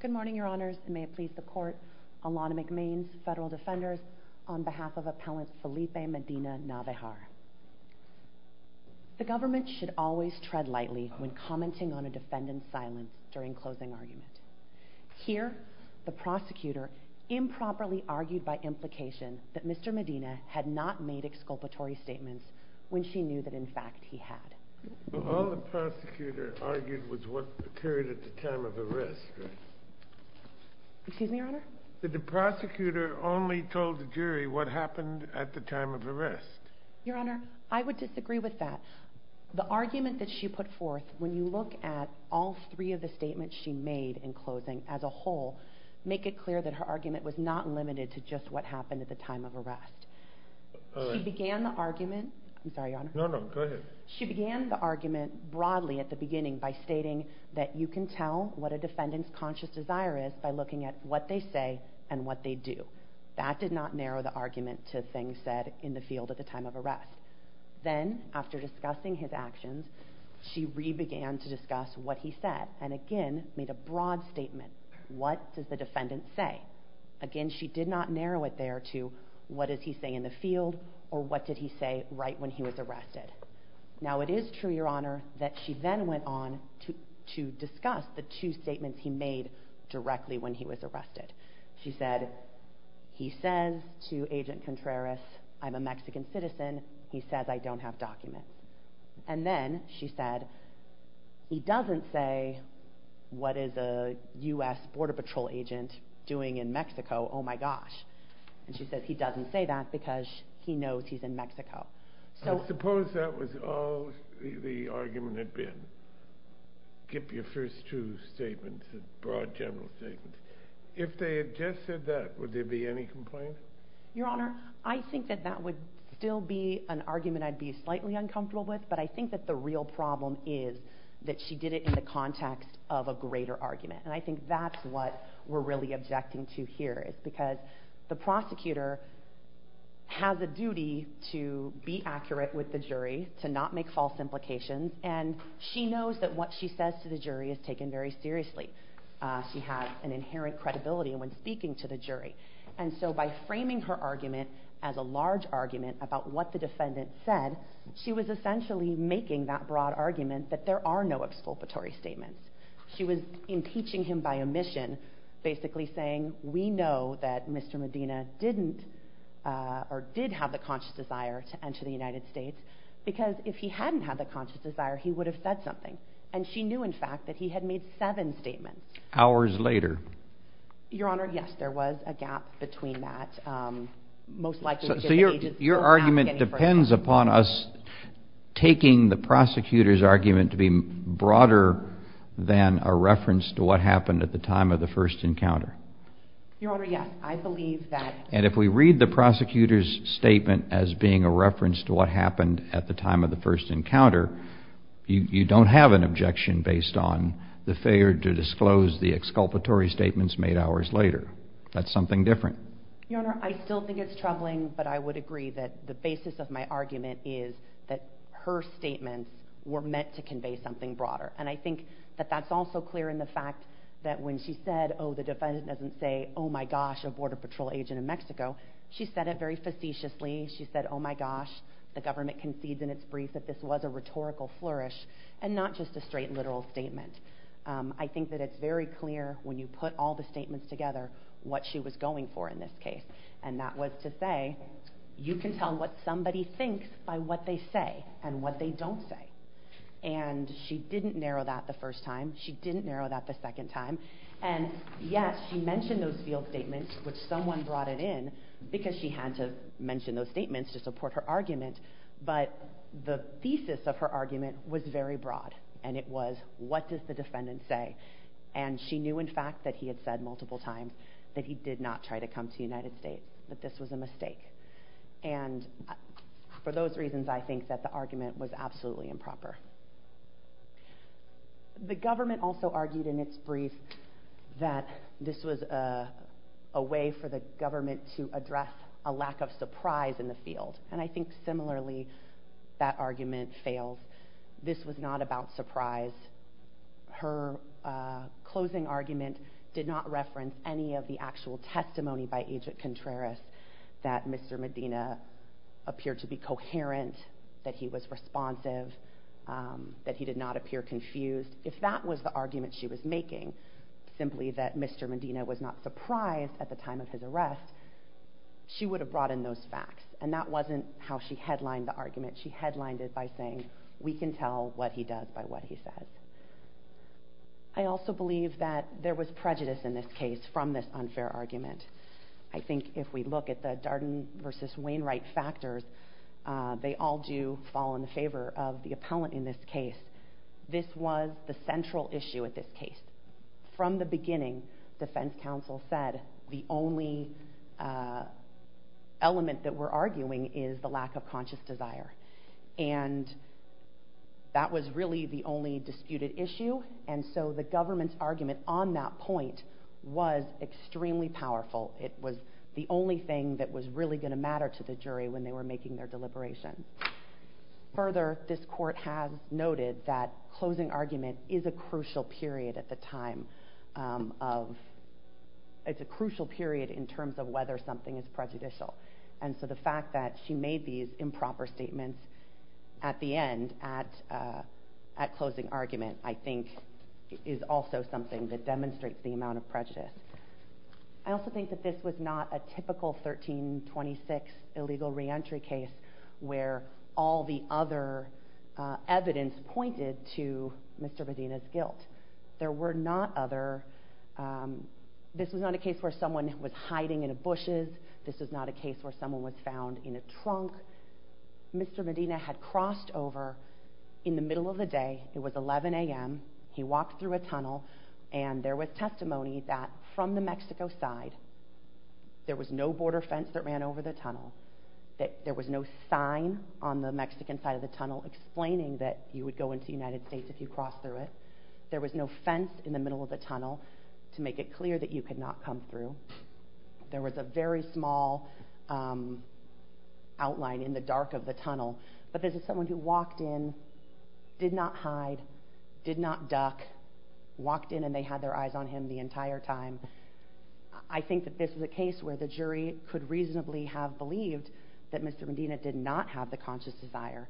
Good morning, Your Honors, and may it please the Court, Alana McMain, Federal Defenders, on behalf of Appellant Felipe Medina-Navejar. The government should always tread lightly when commenting on a defendant's silence during closing argument. Here, the prosecutor improperly argued by implication that Mr. Medina had not made exculpatory statements when she knew that, in fact, he had. All the prosecutor argued was what occurred at the time of arrest, right? Excuse me, Your Honor? Did the prosecutor only tell the jury what happened at the time of arrest? Your Honor, I would disagree with that. The argument that she put forth, when you look at all three of the statements she made in closing as a whole, make it clear that her argument was not limited to just what happened at the time of arrest. All right. She began the argument... I'm sorry, Your Honor. No, no, go ahead. She began the argument broadly at the beginning by stating that you can tell what a defendant's conscious desire is by looking at what they say and what they do. That did not narrow the argument to things said in the field at the time of arrest. Then, after discussing his actions, she re-began to discuss what he said, and again made a broad statement. What does the defendant say? Again, she did not narrow it there to what is he saying in the field or what did he say right when he was arrested. Now, it is true, Your Honor, that she then went on to discuss the two statements he made directly when he was arrested. She said, he says to Agent Contreras, I'm a Mexican citizen. He says I don't have documents. And then she said, he doesn't say what is a U.S. Border Patrol agent doing in Mexico? Oh my gosh. And she said, he doesn't say that because he knows he's in Mexico. I suppose that was all the argument had been. Keep your first two statements, broad general statements. If they had just said that, would there be any complaint? Your Honor, I think that that would still be an argument I'd be slightly uncomfortable with, but I think that the real problem is that she did it in the context of a greater argument. And I think that's what we're really objecting to here is because the prosecutor has a duty to be accurate with the jury, to not make false implications, and she knows that what she says to the jury is taken very seriously. She has an inherent credibility when speaking to the jury. And so by framing her argument as a large argument about what the defendant said, she was essentially making that broad argument that there are no exculpatory statements. She was impeaching him by omission, basically saying, we know that Mr. Medina didn't or did have the conscious desire to enter the United States, because if he hadn't had the conscious desire, he would have said something. And she knew, in fact, that he had made seven statements. Hours later. Your Honor, yes, there was a gap between that. Your argument depends upon us taking the prosecutor's argument to be broader than a reference to what happened at the time of the first encounter. Your Honor, yes, I believe that. And if we read the prosecutor's statement as being a reference to what happened at the time of the first encounter, you don't have an objection based on the failure to disclose the exculpatory statements made hours later. That's something different. Your Honor, I still think it's troubling, but I would agree that the basis of my argument is that her statements were meant to convey something broader. And I think that that's also clear in the fact that when she said, oh, the defendant doesn't say, oh my gosh, a Border Patrol agent in Mexico, she said it very facetiously. She said, oh my gosh, the government concedes in its brief that this was a rhetorical flourish and not just a straight literal statement. I think that it's very clear when you put all the statements together what she was going for in this case. And that was to say, you can tell what somebody thinks by what they say and what they don't say. And she didn't narrow that the first time. She didn't narrow that the second time. And yes, she mentioned those field statements, which someone brought it in because she had to mention those statements to support her argument. But the thesis of her argument was very broad, and it was, what does the defendant say? And she knew, in fact, that he had said multiple times that he did not try to come to the United States, that this was a mistake. And for those reasons, I think that the argument was absolutely improper. The government also argued in its brief that this was a way for the government to address a lack of surprise in the field. And I think, similarly, that argument fails. This was not about surprise. Her closing argument did not reference any of the actual testimony by Agent Contreras that Mr. Medina appeared to be coherent, that he was responsive, that he did not appear confused. If that was the argument she was making, simply that Mr. Medina was not surprised at the time of his arrest, she would have brought in those facts. And that wasn't how she headlined the argument. She headlined it by saying, we can tell what he does by what he says. I also believe that there was prejudice in this case from this unfair argument. I think if we look at the Darden versus Wainwright factors, they all do fall in the favor of the appellant in this case. This was the central issue at this case. From the beginning, defense counsel said the only element that we're arguing is the lack of conscious desire. And that was really the only disputed issue. And so the government's argument on that point was extremely powerful. It was the only thing that was really going to matter to the jury when they were making their deliberation. Further, this court has noted that closing argument is a crucial period at the time of – it's a crucial period in terms of whether something is prejudicial. And so the fact that she made these improper statements at the end, at closing argument, I think is also something that demonstrates the amount of prejudice. I also think that this was not a typical 1326 illegal reentry case where all the other evidence pointed to Mr. Medina's guilt. There were not other – this was not a case where someone was hiding in bushes. This was not a case where someone was found in a trunk. Mr. Medina had crossed over in the middle of the day. It was 11 a.m. He walked through a tunnel. And there was testimony that from the Mexico side, there was no border fence that ran over the tunnel, that there was no sign on the Mexican side of the tunnel explaining that you would go into the United States if you crossed through it. There was no fence in the middle of the tunnel to make it clear that you could not come through. There was a very small outline in the dark of the tunnel. But this is someone who walked in, did not hide, did not duck, walked in and they had their eyes on him the entire time. I think that this was a case where the jury could reasonably have believed that Mr. Medina did not have the conscious desire.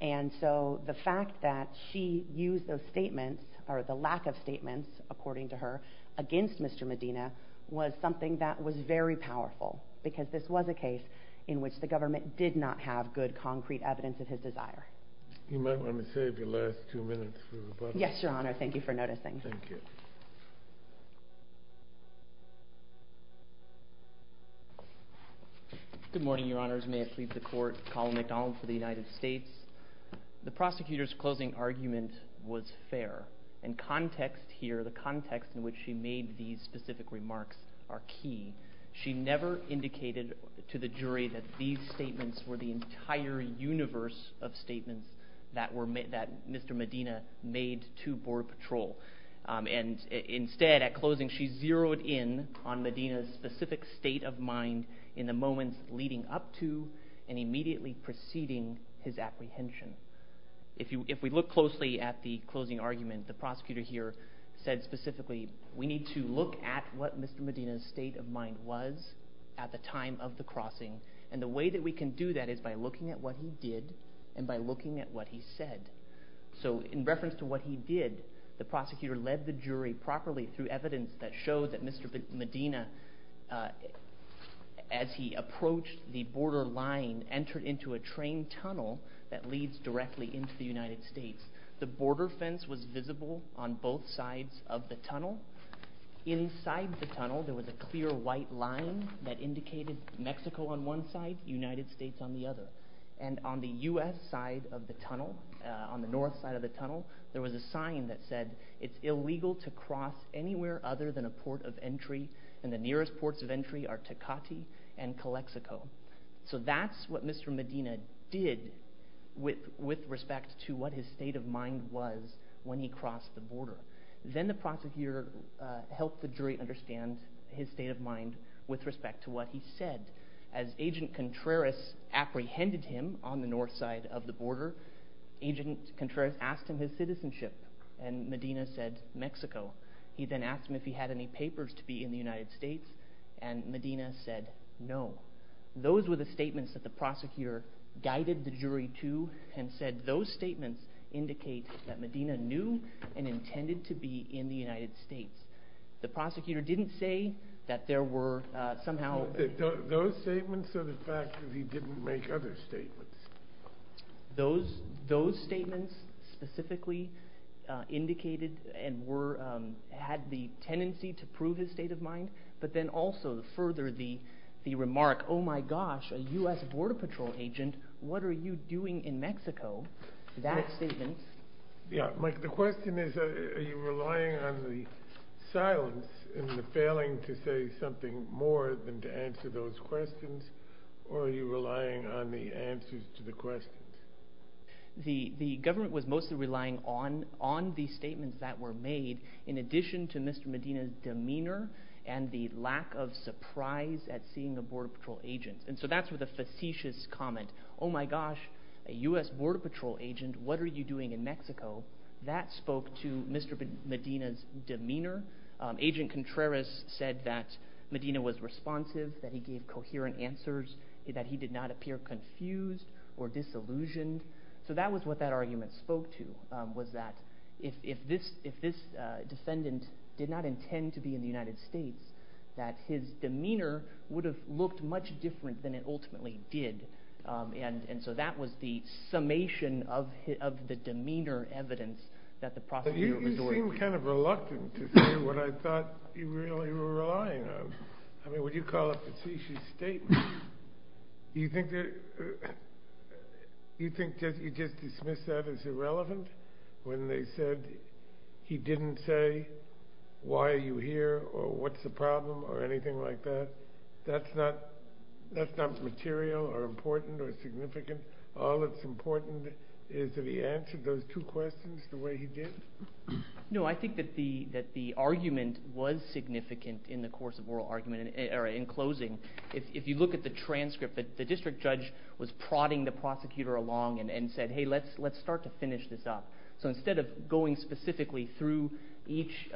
And so the fact that she used those statements – or the lack of statements, according to her, against Mr. Medina – was something that was very powerful. Because this was a case in which the government did not have good concrete evidence of his desire. You might want to save your last two minutes for rebuttal. Yes, Your Honor. Thank you for noticing. Thank you. Good morning, Your Honors. May it please the Court. Colin McDonald for the United States. The prosecutor's closing argument was fair. And context here, the context in which she made these specific remarks, are key. She never indicated to the jury that these statements were the entire universe of statements that Mr. Medina made to Border Patrol. And instead, at closing, she zeroed in on Medina's specific state of mind in the moments leading up to and immediately preceding his apprehension. If we look closely at the closing argument, the prosecutor here said specifically, we need to look at what Mr. Medina's state of mind was at the time of the crossing. And the way that we can do that is by looking at what he did and by looking at what he said. So in reference to what he did, the prosecutor led the jury properly through evidence that showed that Mr. Medina, as he approached the border line, entered into a train tunnel that leads directly into the United States. The border fence was visible on both sides of the tunnel. Inside the tunnel, there was a clear white line that indicated Mexico on one side, United States on the other. And on the U.S. side of the tunnel, on the north side of the tunnel, there was a sign that said, it's illegal to cross anywhere other than a port of entry, and the nearest ports of entry are Tecate and Calexico. So that's what Mr. Medina did with respect to what his state of mind was when he crossed the border. Then the prosecutor helped the jury understand his state of mind with respect to what he said. As Agent Contreras apprehended him on the north side of the border, Agent Contreras asked him his citizenship, and Medina said, Mexico. He then asked him if he had any papers to be in the United States, and Medina said no. Those were the statements that the prosecutor guided the jury to, and said those statements indicate that Medina knew and intended to be in the United States. The prosecutor didn't say that there were somehow... Those statements or the fact that he didn't make other statements? Those statements specifically indicated and had the tendency to prove his state of mind, but then also further the remark, oh my gosh, a U.S. Border Patrol agent, what are you doing in Mexico? That statement... Yeah, Mike, the question is, are you relying on the silence and the failing to say something more than to answer those questions, or are you relying on the answers to the questions? The government was mostly relying on the statements that were made in addition to Mr. Medina's demeanor and the lack of surprise at seeing a Border Patrol agent, and so that's with a facetious comment, oh my gosh, a U.S. Border Patrol agent, what are you doing in Mexico? Agent Contreras said that Medina was responsive, that he gave coherent answers, that he did not appear confused or disillusioned, so that was what that argument spoke to, was that if this defendant did not intend to be in the United States, that his demeanor would have looked much different than it ultimately did, and so that was the summation of the demeanor evidence that the prosecutor... You seem kind of reluctant to say what I thought you really were relying on, I mean, when you call it a facetious statement, do you think you just dismiss that as irrelevant, when they said he didn't say, why are you here, or what's the problem, or anything like that? That's not material or important or significant, all that's important is that he answered those two questions the way he did. No, I think that the argument was significant in the course of oral argument, or in closing, if you look at the transcript, the district judge was prodding the prosecutor along and said, hey, let's start to finish this up, so instead of going specifically through each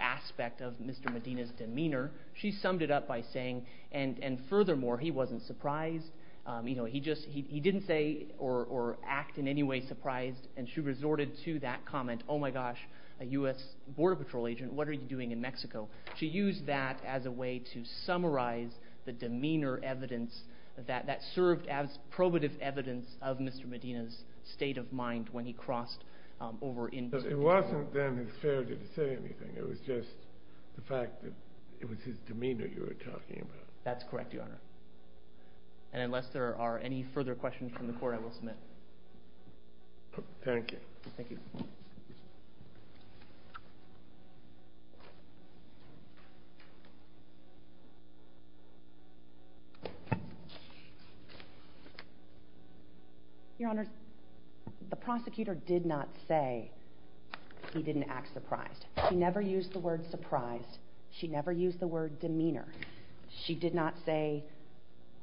aspect of Mr. Medina's demeanor, she summed it up by saying, and furthermore, he wasn't way surprised, and she resorted to that comment, oh my gosh, a U.S. Border Patrol agent, what are you doing in Mexico? She used that as a way to summarize the demeanor evidence that served as probative evidence of Mr. Medina's state of mind when he crossed over into... It wasn't then his failure to say anything, it was just the fact that it was his demeanor That's correct, Your Honor. And unless there are any further questions from the court, I will submit. Thank you. Thank you. Your Honor, the prosecutor did not say he didn't act surprised. She never used the word surprised. She never used the word demeanor. She did not say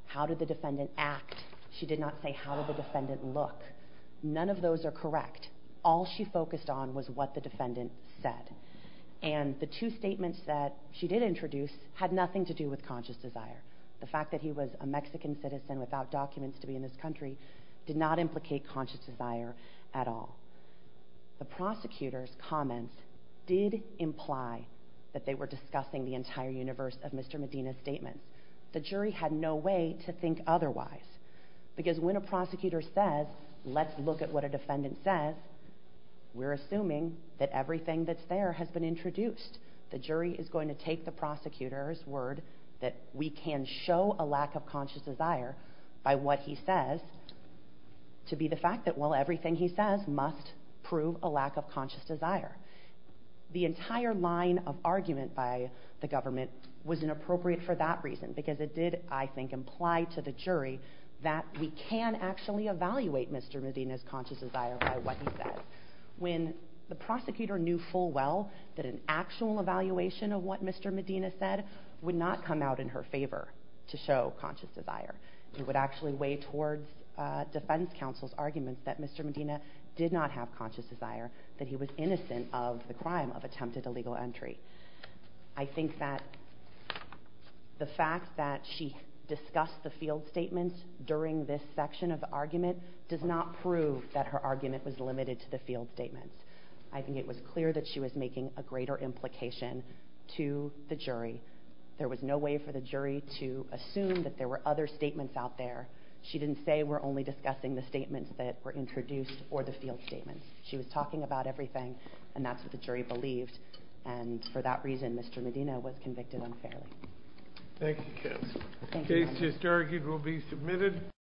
how did the defendant act. She did not say how did the defendant look. None of those are correct. All she focused on was what the defendant said. And the two statements that she did introduce had nothing to do with conscious desire. The fact that he was a Mexican citizen without documents to be in this country did not implicate conscious desire at all. The prosecutor's comments did imply that they were discussing the entire universe of Mr. Medina's statements. The jury had no way to think otherwise. Because when a prosecutor says, let's look at what a defendant says, we're assuming that everything that's there has been introduced. The jury is going to take the prosecutor's word that we can show a lack of conscious desire by what he says to be the fact that, well, everything he says must prove a lack of conscious desire. The entire line of argument by the government was inappropriate for that reason, because it did, I think, imply to the jury that we can actually evaluate Mr. Medina's conscious desire by what he says. When the prosecutor knew full well that an actual evaluation of what Mr. Medina said would not come out in her favor to show conscious desire, it would actually weigh towards defense counsel's arguments that Mr. Medina did not have conscious desire, that he was innocent of the crime of attempted illegal entry. I think that the fact that she discussed the field statements during this section of the argument does not prove that her argument was limited to the field statements. I think it was clear that she was making a greater implication to the jury. There was no way for the jury to assume that there were other statements out there. She didn't say, we're only discussing the statements that were introduced or the field statements. She was talking about everything, and that's what the jury believed. And for that reason, Mr. Medina was convicted unfairly. Thank you, counsel. Thank you. The case just argued will be submitted.